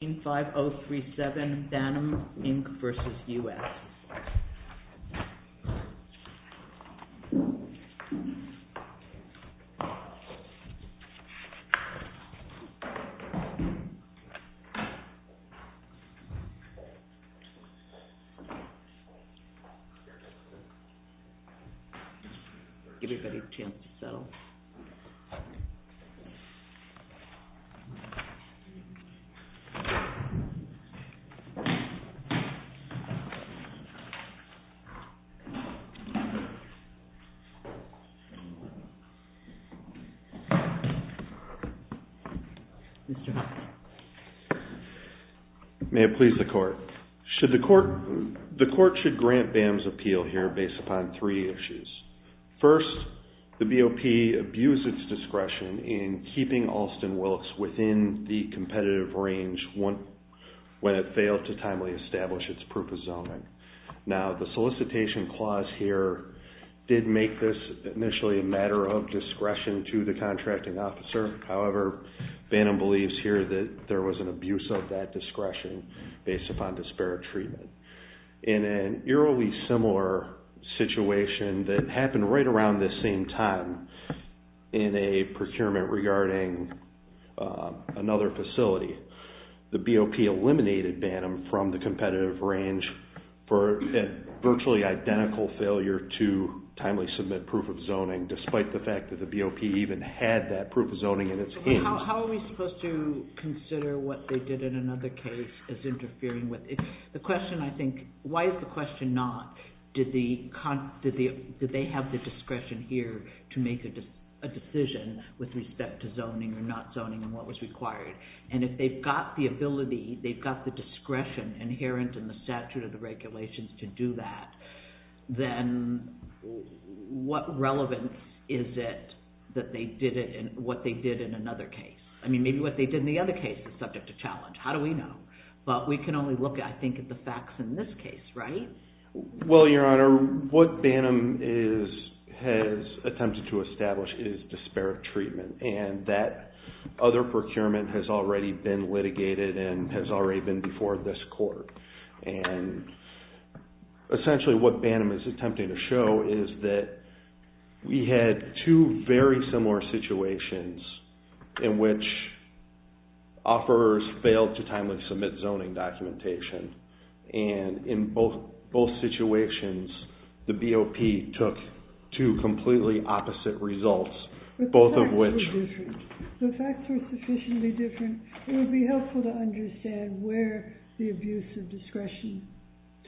In 5037, Banham, Inc. vs. U.S. Give everybody a chance to settle. May it please the court. The court should grant Banham's appeal here based upon three issues. First, the BOP abused its discretion in keeping Alston-Wilks within the competitive range when it failed to timely establish its proof of zoning. Now, the solicitation clause here did make this initially a matter of discretion to the contracting officer. However, Banham believes here that there was an abuse of that discretion based upon disparate treatment. In an eerily similar situation that happened right around this same time in a procurement regarding another facility, the BOP eliminated Banham from the competitive range for a virtually identical failure to timely submit proof of zoning, despite the fact that the BOP even had that proof of zoning in its hands. How are we supposed to consider what they did in another case as interfering with it? The question, I think, why is the question not did they have the discretion here to make a decision with respect to zoning or not zoning and what was required? And if they've got the ability, they've got the discretion inherent in the statute of the regulations to do that, then what relevance is it that they did it in what they did in another case? I mean, maybe what they did in the other case was subject to challenge. How do we know? But we can only look, I think, at the facts in this case, right? Well, Your Honor, what Banham has attempted to establish is disparate treatment. And that other procurement has already been litigated and has already been before this court. And essentially what Banham is attempting to show is that we had two very similar situations in which offerors failed to timely submit zoning documentation. And in both situations, the BOP took two completely opposite results, both of which…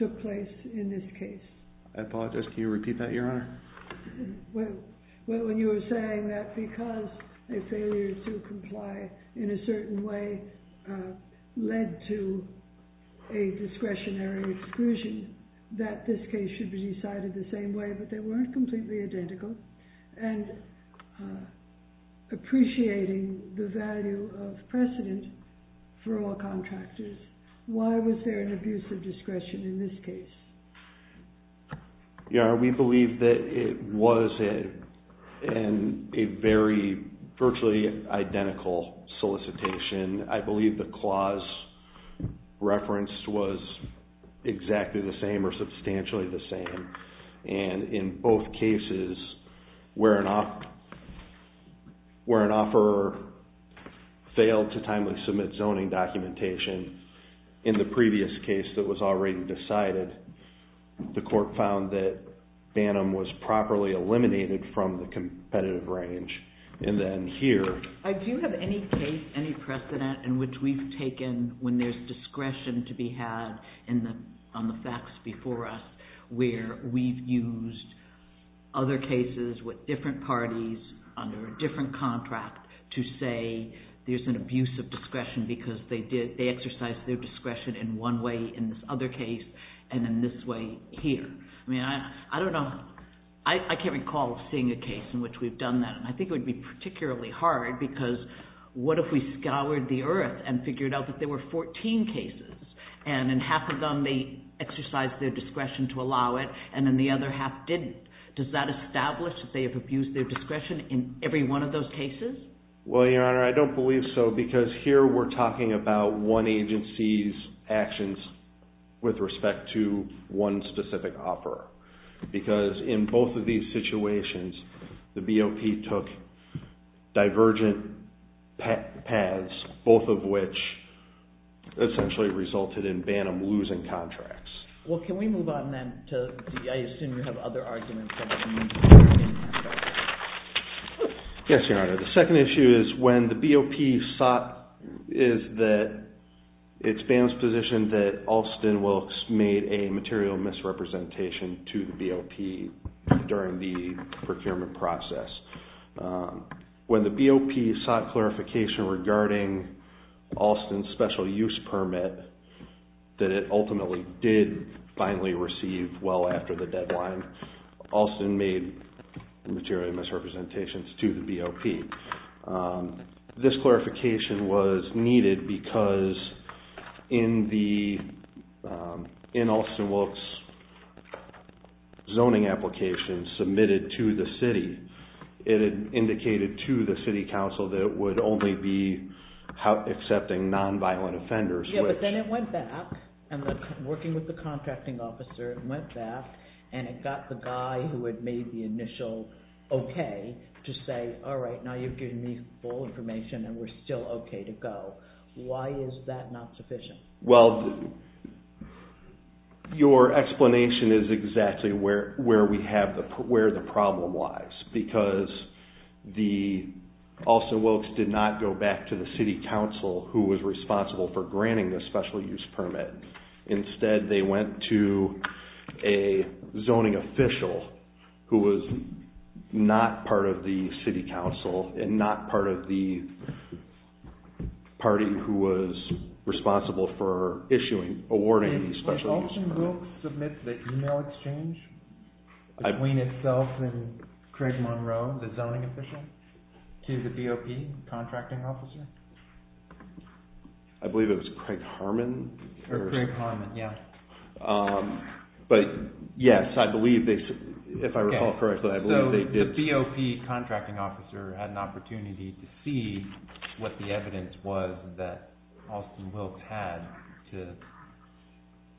took place in this case. I apologize. Can you repeat that, Your Honor? Well, when you were saying that because a failure to comply in a certain way led to a discretionary exclusion, that this case should be decided the same way, but they weren't completely identical. And appreciating the value of precedent for all contractors, why was there an abuse of discretion in this case? Your Honor, we believe that it was a very virtually identical solicitation. I believe the clause referenced was exactly the same or substantially the same. And in both cases, where an offeror failed to timely submit zoning documentation, in the previous case that was already decided, the court found that Banham was properly eliminated from the competitive range. And then here… I do have any case, any precedent in which we've taken when there's discretion to be had on the facts before us where we've used other cases with different parties under a different contract to say there's an abuse of discretion because they exercised their discretion in one way in this other case and in this way here. I mean, I don't know. I can't recall seeing a case in which we've done that. And I think it would be particularly hard because what if we scoured the earth and figured out that there were 14 cases and in half of them they exercised their discretion to allow it and in the other half didn't. Does that establish that they have abused their discretion in every one of those cases? Well, Your Honor, I don't believe so because here we're talking about one agency's actions with respect to one specific offeror Well, can we move on then to… I assume you have other arguments about the use of discretion. Yes, Your Honor. The second issue is when the BOP sought… is that it's Banham's position that Alston Wilkes made a material misrepresentation to the BOP during the procurement process. When the BOP sought clarification regarding Alston's special use permit that it ultimately did finally receive well after the deadline, Alston made material misrepresentations to the BOP. This clarification was needed because in Alston Wilkes' zoning application submitted to the city, it indicated to the city council that it would only be accepting non-violent offenders. Yeah, but then it went back and working with the contracting officer, it went back and it got the guy who had made the initial okay to say, all right, now you've given me full information and we're still okay to go. Why is that not sufficient? Well, your explanation is exactly where the problem lies because the… Alston Wilkes did not go back to the city council who was responsible for granting the special use permit. Instead, they went to a zoning official who was not part of the city council and not part of the party who was responsible for awarding the special use permit. Did Alston Wilkes submit the email exchange between itself and Craig Monroe, the zoning official, to the BOP contracting officer? I believe it was Craig Harmon. Craig Harmon, yeah. But yes, I believe they, if I recall correctly, I believe they did. So the BOP contracting officer had an opportunity to see what the evidence was that Alston Wilkes had to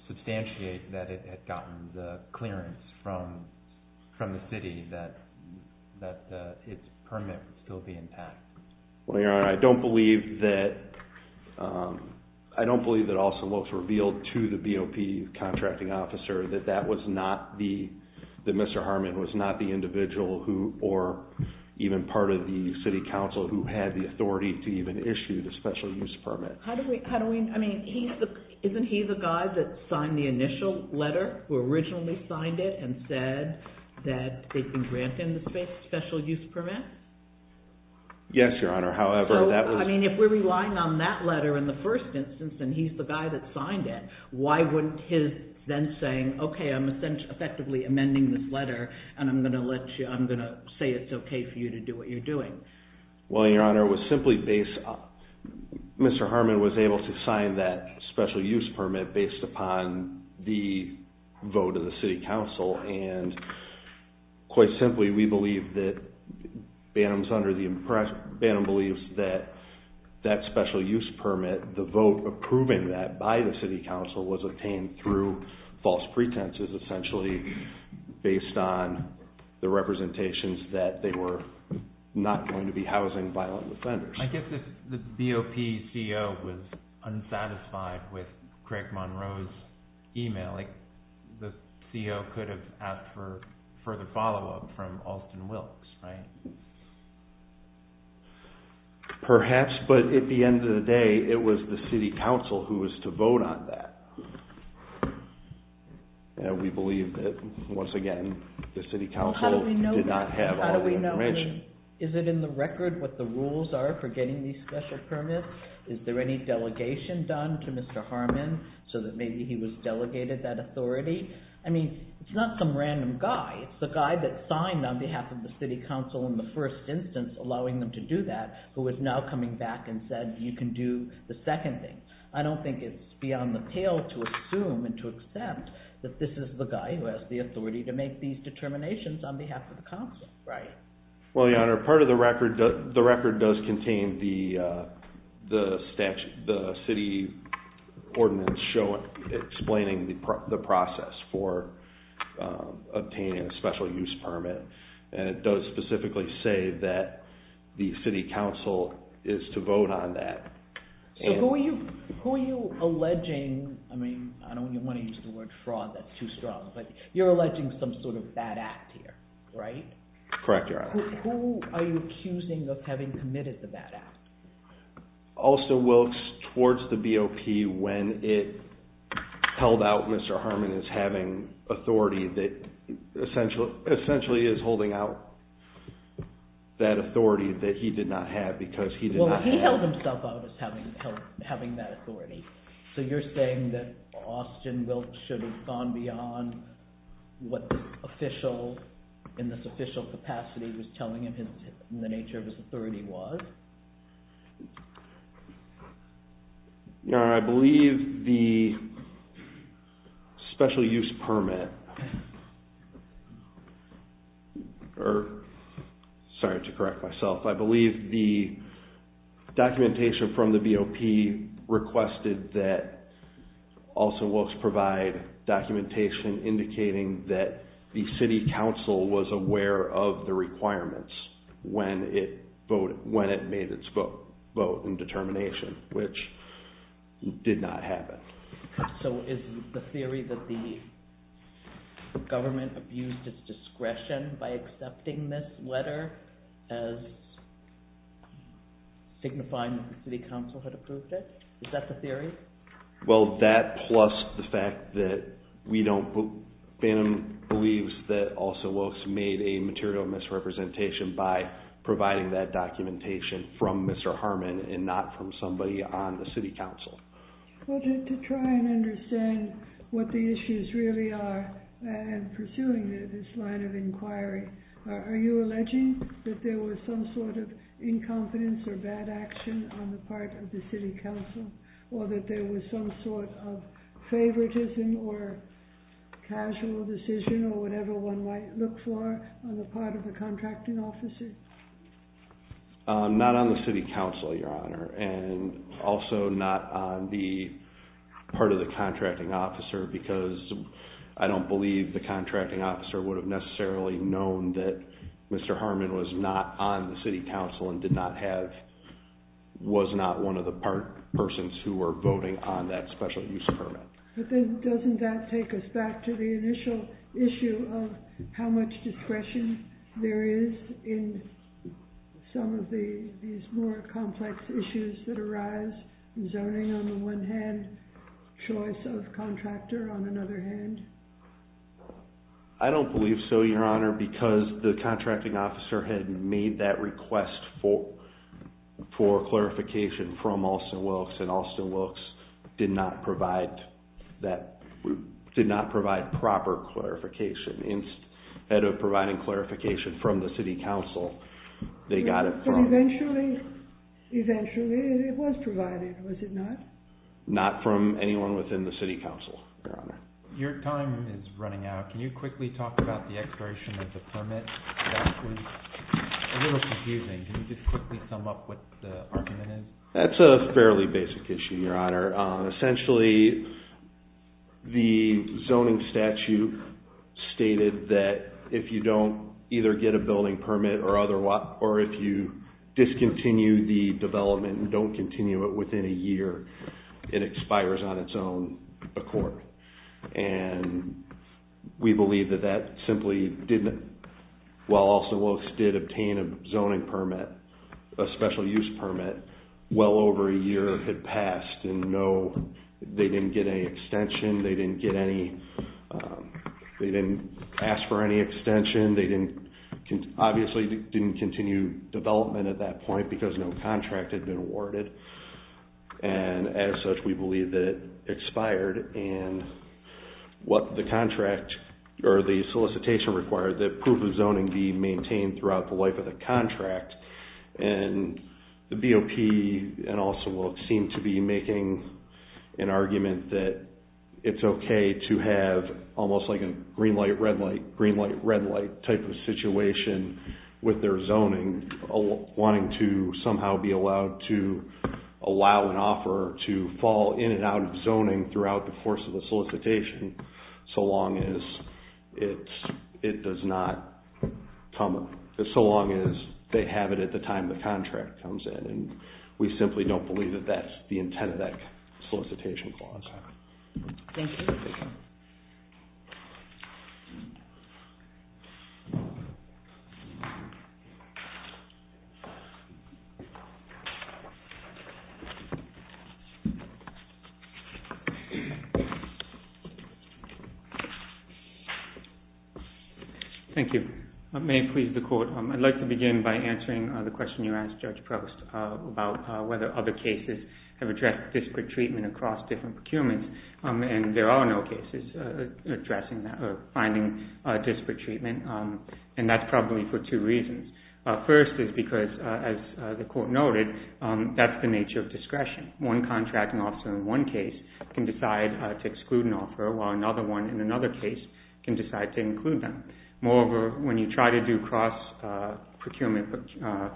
substantiate that it had gotten the clearance from the city that its permit would still be intact. Well, Your Honor, I don't believe that Alston Wilkes revealed to the BOP contracting officer that Mr. Harmon was not the individual or even part of the city council who had the authority to even issue the special use permit. How do we, I mean, isn't he the guy that signed the initial letter, who originally signed it and said that they can grant him the special use permit? Yes, Your Honor, however, that was... So, I mean, if we're relying on that letter in the first instance and he's the guy that signed it, why wouldn't his then saying, okay, I'm effectively amending this letter and I'm going to let you, I'm going to say it's okay for you to do what you're doing? Well, Your Honor, it was simply based, Mr. Harmon was able to sign that special use permit based upon the vote of the city council. And quite simply, we believe that Bantam's under the impression, Bantam believes that that special use permit, the vote approving that by the city council was obtained through false pretenses essentially based on the representations that they were not going to be housing violent offenders. I guess if the BOP CEO was unsatisfied with Craig Monroe's email, the CEO could have asked for further follow-up from Alston Wilkes, right? Perhaps, but at the end of the day, it was the city council who was to vote on that. And we believe that, once again, the city council did not have all the information. I mean, is it in the record what the rules are for getting these special permits? Is there any delegation done to Mr. Harmon so that maybe he was delegated that authority? I mean, it's not some random guy. It's the guy that signed on behalf of the city council in the first instance, allowing them to do that, who is now coming back and said, you can do the second thing. I don't think it's beyond the pale to assume and to accept that this is the guy who has the authority to make these determinations on behalf of the council. Well, Your Honor, part of the record does contain the city ordinance explaining the process for obtaining a special use permit, and it does specifically say that the city council is to vote on that. So who are you alleging, I mean, I don't want to use the word fraud, that's too strong, but you're alleging some sort of bad act here, right? Correct, Your Honor. Who are you accusing of having committed the bad act? Alston Wilkes, towards the BOP, when it held out Mr. Harmon as having authority that essentially is holding out that authority that he did not have because he did not have… Well, he held himself out as having that authority. So you're saying that Alston Wilkes should have gone beyond what the official, in this official capacity, was telling him the nature of his authority was? Your Honor, I believe the special use permit, or sorry to correct myself, I believe the documentation from the BOP requested that Alston Wilkes provide documentation indicating that the city council was aware of the requirements when it voted, and that it needed its vote and determination, which did not happen. So is the theory that the government abused its discretion by accepting this letter as signifying that the city council had approved it, is that the theory? Well, that plus the fact that we don't, Bantam believes that Alston Wilkes made a material misrepresentation by providing that documentation from Mr. Harmon and not from somebody on the city council. Well, to try and understand what the issues really are and pursuing this line of inquiry, are you alleging that there was some sort of incompetence or bad action on the part of the city council or that there was some sort of favoritism or casual decision or whatever one might look for on the part of a contracting officer? Not on the city council, Your Honor, and also not on the part of the contracting officer because I don't believe the contracting officer would have necessarily known that Mr. Harmon was not on the city council and did not have, was not one of the persons who were voting on that special use permit. But then doesn't that take us back to the initial issue of how much discretion there is in some of these more complex issues that arise, zoning on the one hand, choice of contractor on another hand? I don't believe so, Your Honor, because the contracting officer had made that request for clarification from Alston Wilkes and Alston Wilkes did not provide that, did not provide proper clarification. Instead of providing clarification from the city council, they got it from... But eventually, it was provided, was it not? Not from anyone within the city council, Your Honor. Your time is running out. Can you quickly talk about the expiration of the permit? That was a little confusing. Can you just quickly sum up what the argument is? That's a fairly basic issue, Your Honor. Essentially, the zoning statute stated that if you don't either get a building permit or if you discontinue the development and don't continue it within a year, it expires on its own accord. And we believe that that simply didn't, while Alston Wilkes did obtain a zoning permit, a special use permit, well over a year had passed and no, they didn't get any extension. They didn't get any, they didn't ask for any extension. They didn't, obviously didn't continue development at that point because no contract had been awarded. And as such, we believe that it expired and what the contract or the solicitation required that proof of zoning be maintained throughout the life of the contract. And the BOP and Alston Wilkes seem to be making an argument that it's okay to have almost like a green light, red light, green light, red light type of situation with their zoning wanting to somehow be allowed to allow an offer to fall in and out of zoning throughout the course of the solicitation so long as it does not come up. So long as they have it at the time the contract comes in and we simply don't believe that that's the intent of that solicitation clause. Thank you. Thank you. There are no cases addressing that or finding disparate treatment and that's probably for two reasons. First is because as the court noted, that's the nature of discretion. One contracting officer in one case can decide to exclude an offer while another one in another case can decide to include them. Moreover, when you try to do cross-procurement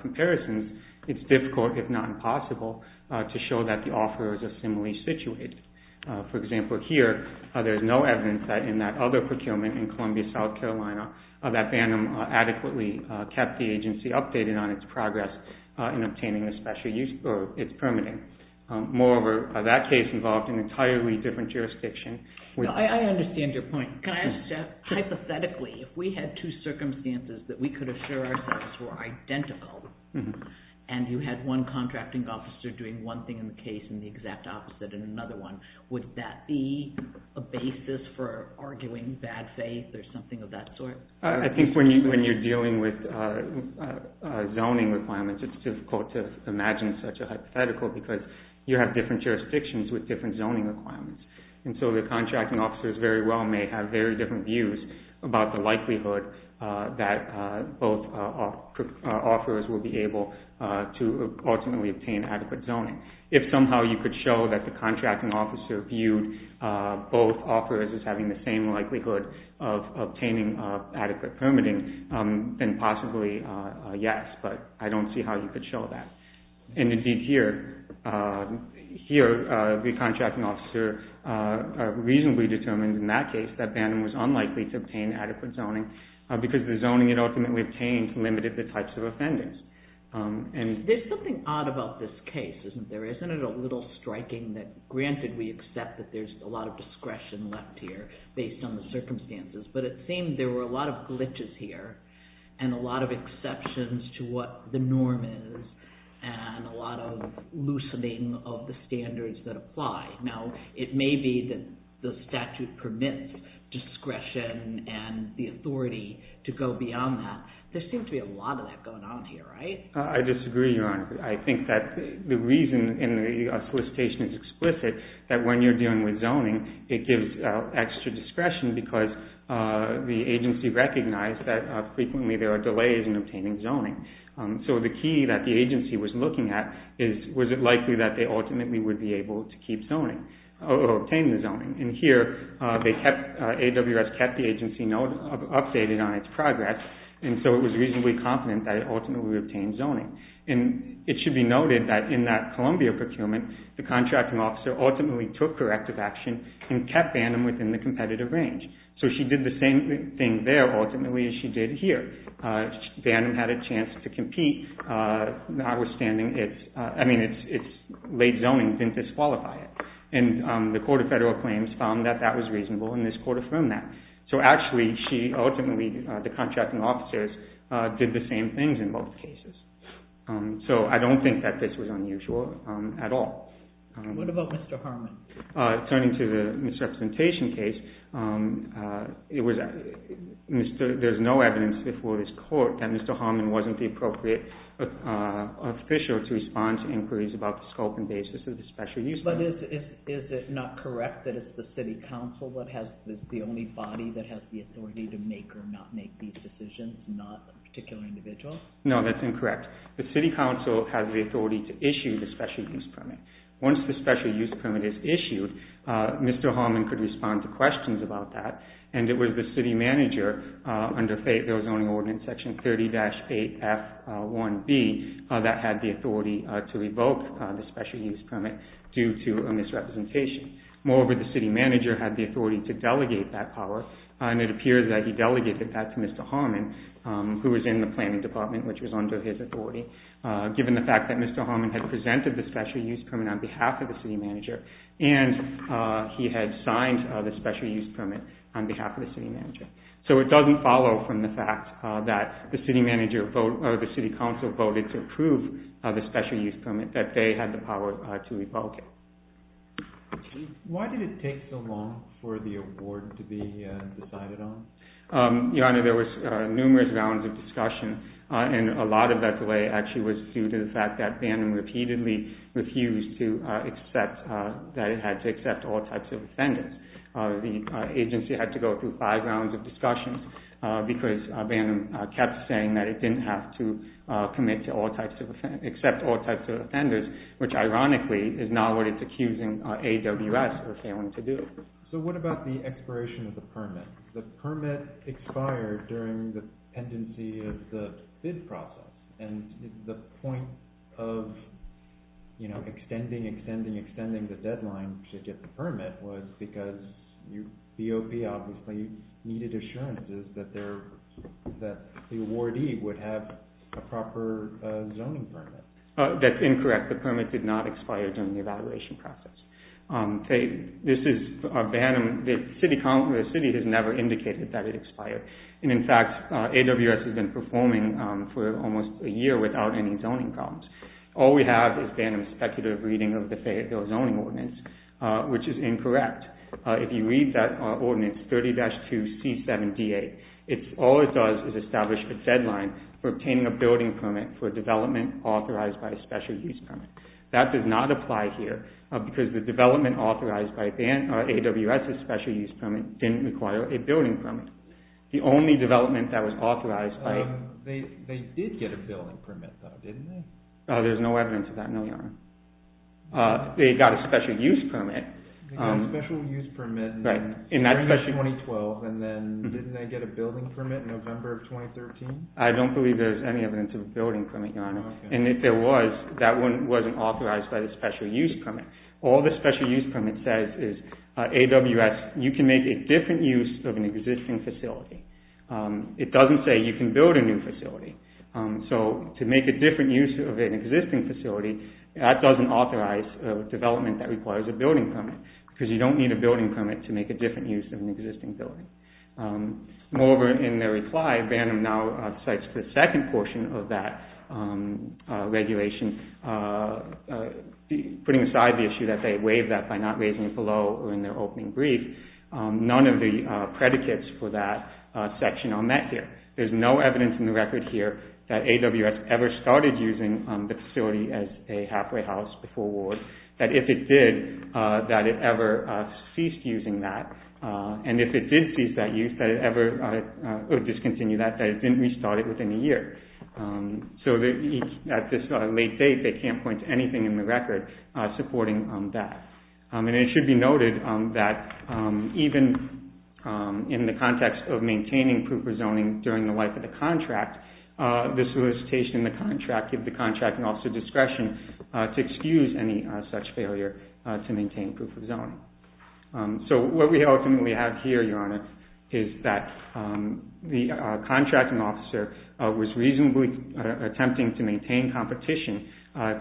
comparisons, it's difficult if not impossible to show that the offer is similarly situated. For example, here, there's no evidence that in that other procurement in Columbia, South Carolina, that BANNM adequately kept the agency updated on its progress in obtaining the special use or its permitting. Moreover, that case involved an entirely different jurisdiction. I understand your point. Hypothetically, if we had two circumstances that we could assure ourselves were identical and you had one contracting officer doing one thing in the case and the exact opposite in another one, would that be a basis for arguing bad faith or something of that sort? I think when you're dealing with zoning requirements, it's difficult to imagine such a hypothetical because you have different jurisdictions with different zoning requirements. So the contracting officers very well may have very different views about the likelihood that both offers will be able to ultimately obtain adequate zoning. If somehow you could show that the contracting officer viewed both offers as having the same likelihood of obtaining adequate permitting, then possibly yes, but I don't see how you could show that. Indeed here, the contracting officer reasonably determined in that case that BANNM was unlikely to obtain adequate zoning because the zoning it ultimately obtained limited the types of offenders. There's something odd about this case, isn't there? Isn't it a little striking that granted we accept that there's a lot of discretion left here based on the circumstances, but it seemed there were a lot of glitches here and a lot of exceptions to what the norm is and a lot of loosening of the standards that apply. Now, it may be that the statute permits discretion and the authority to go beyond that. There seems to be a lot of that going on here, right? The contracting officer ultimately took corrective action and kept BANNM within the competitive range. So she did the same thing there ultimately as she did here. BANNM had a chance to compete notwithstanding its late zoning didn't disqualify it. And the court of federal claims found that that was reasonable and this court affirmed that. So actually she ultimately, the contracting officers, did the same things in both cases. So I don't think that this was unusual at all. What about Mr. Harmon? Turning to the misrepresentation case, there's no evidence before this court that Mr. Harmon wasn't the appropriate official to respond to inquiries about the scope and basis of the special use permit. But is it not correct that it's the city council that has the only body that has the authority to make or not make these decisions, not a particular individual? No, that's incorrect. The city council has the authority to issue the special use permit. Once the special use permit is issued, Mr. Harmon could respond to questions about that and it was the city manager under Fayetteville Zoning Ordinance Section 30-8F1B that had the authority to revoke the special use permit due to a misrepresentation. Moreover, the city manager had the authority to delegate that power and it appears that he delegated that to Mr. Harmon, who was in the planning department, which was under his authority, given the fact that Mr. Harmon had presented the special use permit on behalf of the city manager and he had signed the special use permit on behalf of the city manager. So it doesn't follow from the fact that the city manager or the city council voted to approve the special use permit that they had the power to revoke it. Why did it take so long for the award to be decided on? Your Honor, there were numerous rounds of discussion and a lot of that delay actually was due to the fact that Bantam repeatedly refused to accept that it had to accept all types of offenders. The agency had to go through five rounds of discussion because Bantam kept saying that it didn't have to accept all types of offenders, which ironically is not what it's accusing AWS for failing to do. So what about the expiration of the permit? The permit expired during the pendency of the bid process and the point of extending, extending, extending the deadline to get the permit was because BOP obviously needed assurances that the awardee would have a proper zoning permit. That's incorrect. The permit did not expire during the evaluation process. The city has never indicated that it expired and in fact AWS has been performing for almost a year without any zoning problems. All we have is Bantam's speculative reading of the zoning ordinance, which is incorrect. If you read that ordinance 30-2C7DA, all it does is establish a deadline for obtaining a building permit for development authorized by a special use permit. That does not apply here because the development authorized by AWS's special use permit didn't require a building permit. The only development that was authorized by... They did get a building permit though, didn't they? There's no evidence of that, no, Your Honor. They got a special use permit. They got a special use permit in 2012 and then didn't they get a building permit in November of 2013? I don't believe there's any evidence of a building permit, Your Honor. And if there was, that one wasn't authorized by the special use permit. All the special use permit says is AWS, you can make a different use of an existing facility. It doesn't say you can build a new facility. So to make a different use of an existing facility, that doesn't authorize development that requires a building permit because you don't need a building permit to make a different use of an existing building. Moreover, in their reply, Vandem now cites the second portion of that regulation, putting aside the issue that they waived that by not raising it below or in their opening brief. None of the predicates for that section are met here. There's no evidence in the record here that AWS ever started using the facility as a halfway house before war. That if it did, that it ever ceased using that. And if it did cease that use, that it ever discontinued that, that it didn't restart it within a year. So at this late date, they can't point to anything in the record supporting that. And it should be noted that even in the context of maintaining proof of zoning during the life of the contract, the solicitation and the contract give the contracting officer discretion to excuse any such failure to maintain proof of zoning. So what we ultimately have here, Your Honor, is that the contracting officer was reasonably attempting to maintain competition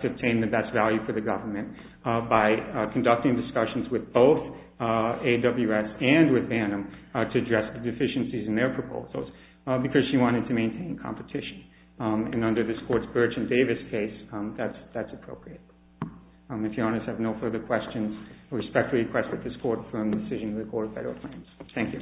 to obtain the best value for the government by conducting discussions with both AWS and with Vandem to address the deficiencies in their proposals because she wanted to maintain competition. And under this Court's Burch and Davis case, that's appropriate. If Your Honors have no further questions, I respectfully request that this Court firm the decision to record federal claims. Thank you.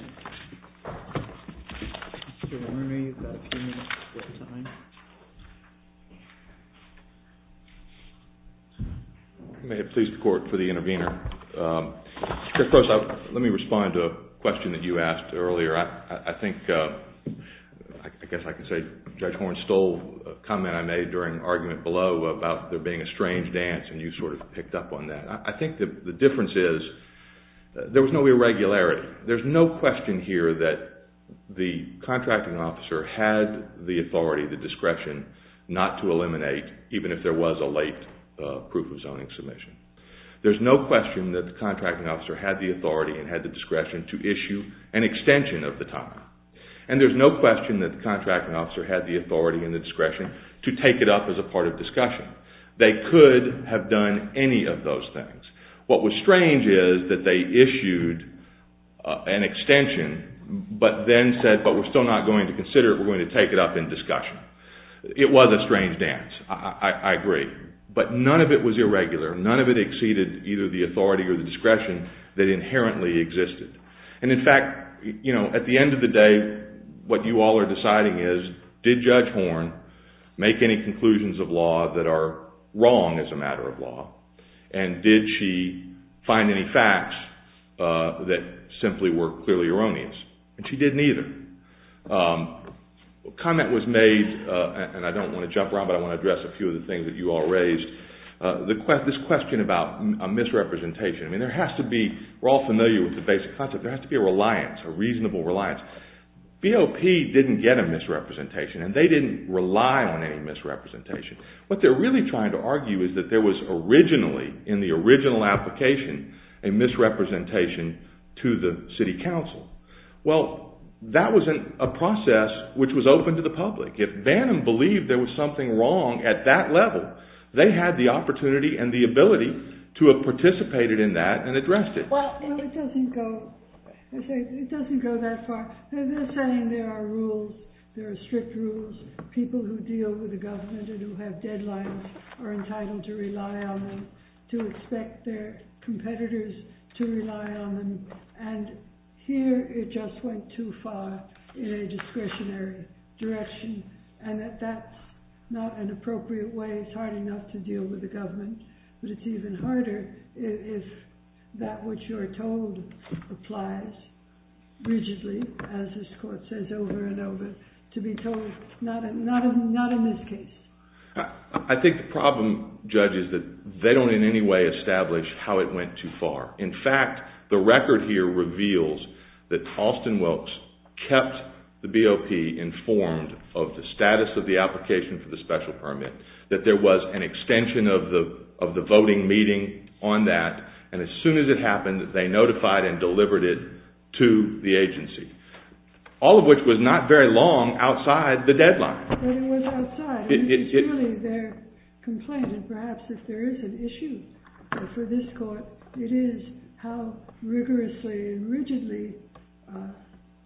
May it please the Court for the intervener. Judge Gross, let me respond to a question that you asked earlier. I think, I guess I can say Judge Horne stole a comment I made during an argument below about there being a strange dance and you sort of picked up on that. I think the difference is there was no irregularity. There's no question here that the contracting officer had the authority, the discretion not to eliminate even if there was a late proof of zoning submission. There's no question that the contracting officer had the authority and had the discretion to issue an extension of the time. And there's no question that the contracting officer had the authority and the discretion to take it up as a part of discussion. They could have done any of those things. What was strange is that they issued an extension but then said, but we're still not going to consider it. We're going to take it up in discussion. It was a strange dance. I agree. But none of it was irregular. None of it exceeded either the authority or the discretion that inherently existed. And in fact, at the end of the day, what you all are deciding is, did Judge Horne make any conclusions of law that are wrong as a matter of law? And did she find any facts that simply were clearly erroneous? And she didn't either. A comment was made, and I don't want to jump around, but I want to address a few of the things that you all raised. This question about a misrepresentation. We're all familiar with the basic concept. There has to be a reliance, a reasonable reliance. BOP didn't get a misrepresentation, and they didn't rely on any misrepresentation. What they're really trying to argue is that there was originally, in the original application, a misrepresentation to the city council. Well, that was a process which was open to the public. If Bannum believed there was something wrong at that level, they had the opportunity and the ability to have participated in that and addressed it. Well, it doesn't go that far. They're saying there are rules. There are strict rules. People who deal with the government and who have deadlines are entitled to rely on them, to expect their competitors to rely on them. And here, it just went too far in a discretionary direction. And that that's not an appropriate way. It's hard enough to deal with the government, but it's even harder if that which you're told applies rigidly, as this court says over and over, to be told not in this case. I think the problem, Judge, is that they don't in any way establish how it went too far. In fact, the record here reveals that Halston Wilkes kept the BOP informed of the status of the application for the special permit, that there was an extension of the voting meeting on that, and as soon as it happened, they notified and delivered it to the agency, all of which was not very long outside the deadline. But it was outside. It's really their complaint, and perhaps if there is an issue for this court, it is how rigorously and rigidly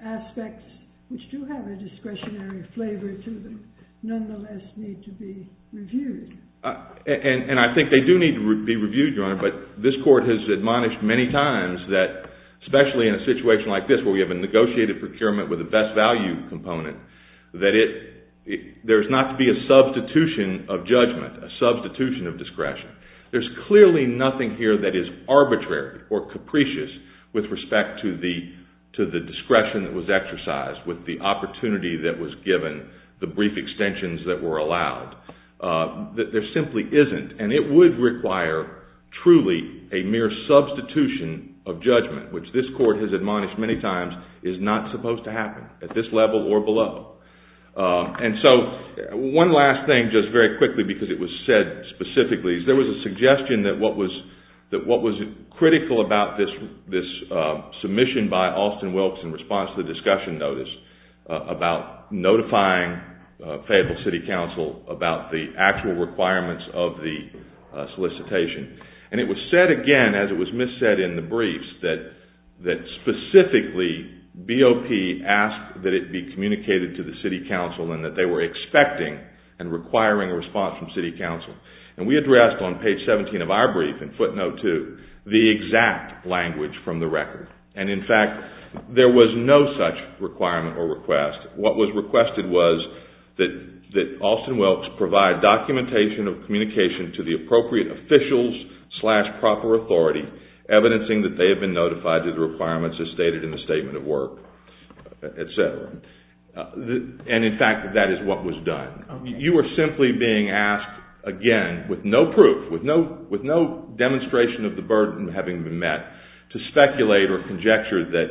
aspects which do have a discretionary flavor to them nonetheless need to be reviewed. And I think they do need to be reviewed, Your Honor, but this court has admonished many times that, especially in a situation like this where we have a negotiated procurement with a best value component, that there's not to be a substitution of judgment, a substitution of discretion. There's clearly nothing here that is arbitrary or capricious with respect to the discretion that was exercised, with the opportunity that was given, the brief extensions that were allowed. There simply isn't, and it would require truly a mere substitution of judgment, which this court has admonished many times is not supposed to happen at this level or below. And so one last thing, just very quickly, because it was said specifically, is there was a suggestion that what was critical about this submission by Austin Wilkes in response to the discussion notice about notifying Fayetteville City Council about the actual requirements of the solicitation. And it was said again, as it was missaid in the briefs, that specifically BOP asked that it be communicated to the City Council and that they were expecting and requiring a response from City Council. And we addressed on page 17 of our brief, in footnote two, the exact language from the record. And in fact, there was no such requirement or request. What was requested was that Austin Wilkes provide documentation of communication to the appropriate officials slash proper authority, evidencing that they have been notified to the requirements as stated in the statement of work, et cetera. And in fact, that is what was done. You are simply being asked, again, with no proof, with no demonstration of the burden having been met, to speculate or conjecture that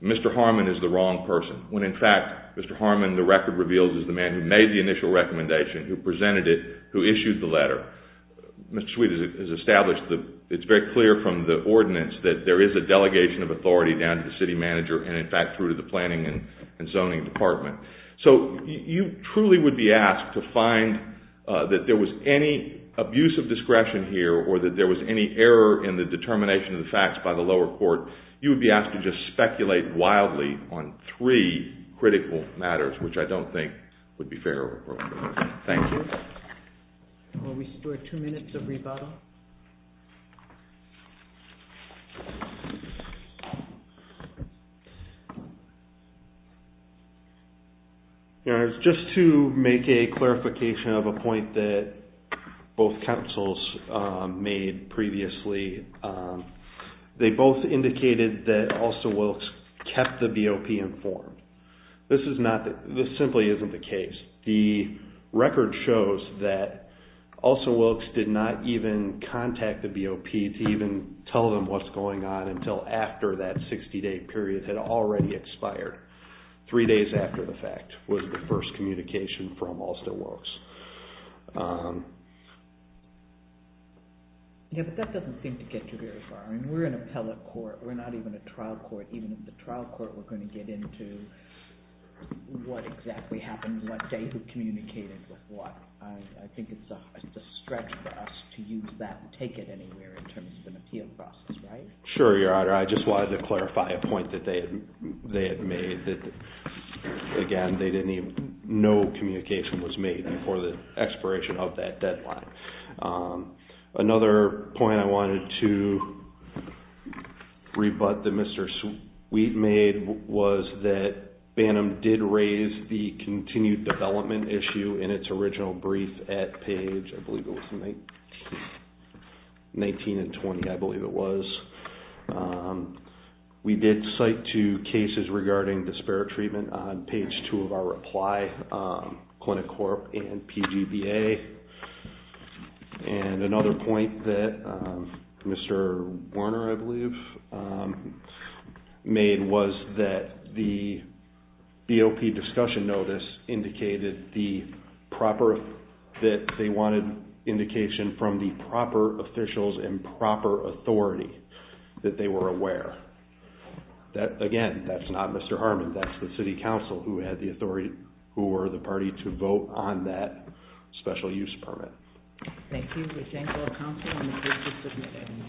Mr. Harmon is the wrong person, when in fact, Mr. Harmon, the record reveals, is the man who made the initial recommendation, who presented it, who issued the letter. Mr. Sweet has established that it's very clear from the ordinance that there is a delegation of authority down to the city manager and in fact through to the planning and zoning department. So you truly would be asked to find that there was any abuse of discretion here or that there was any error in the determination of the facts by the lower court. You would be asked to just speculate wildly on three critical matters, which I don't think would be fair or appropriate. Thank you. Will we still have two minutes of rebuttal? Just to make a clarification of a point that both councils made previously, they both indicated that Also Wilkes kept the BOP informed. This simply isn't the case. The record shows that Also Wilkes did not even contact the BOP to even tell them what's going on until after that 60-day period had already expired, three days after the fact was the first communication from Also Wilkes. That doesn't seem to get you very far. We're an appellate court. We're not even a trial court. Even in the trial court, we're going to get into what exactly happened, what day, who communicated with what. I think it's a stretch for us to use that and take it anywhere in terms of an appeal process, right? Sure, Your Honor. I just wanted to clarify a point that they had made. Again, no communication was made before the expiration of that deadline. Another point I wanted to rebut that Mr. Sweet made was that Bantam did raise the continued development issue in its original brief at page 19 and 20, I believe it was. We did cite two cases regarding disparate treatment on page two of our reply, Clinic Corp and PGBA. Another point that Mr. Warner, I believe, made was that the BOP discussion notice indicated that they wanted indication from the proper officials and proper authority that they were aware. Again, that's not Mr. Harmon. That's the city council who had the authority, who were the party to vote on that special use permit. Thank you. We thank all counsel and the jury for submitting.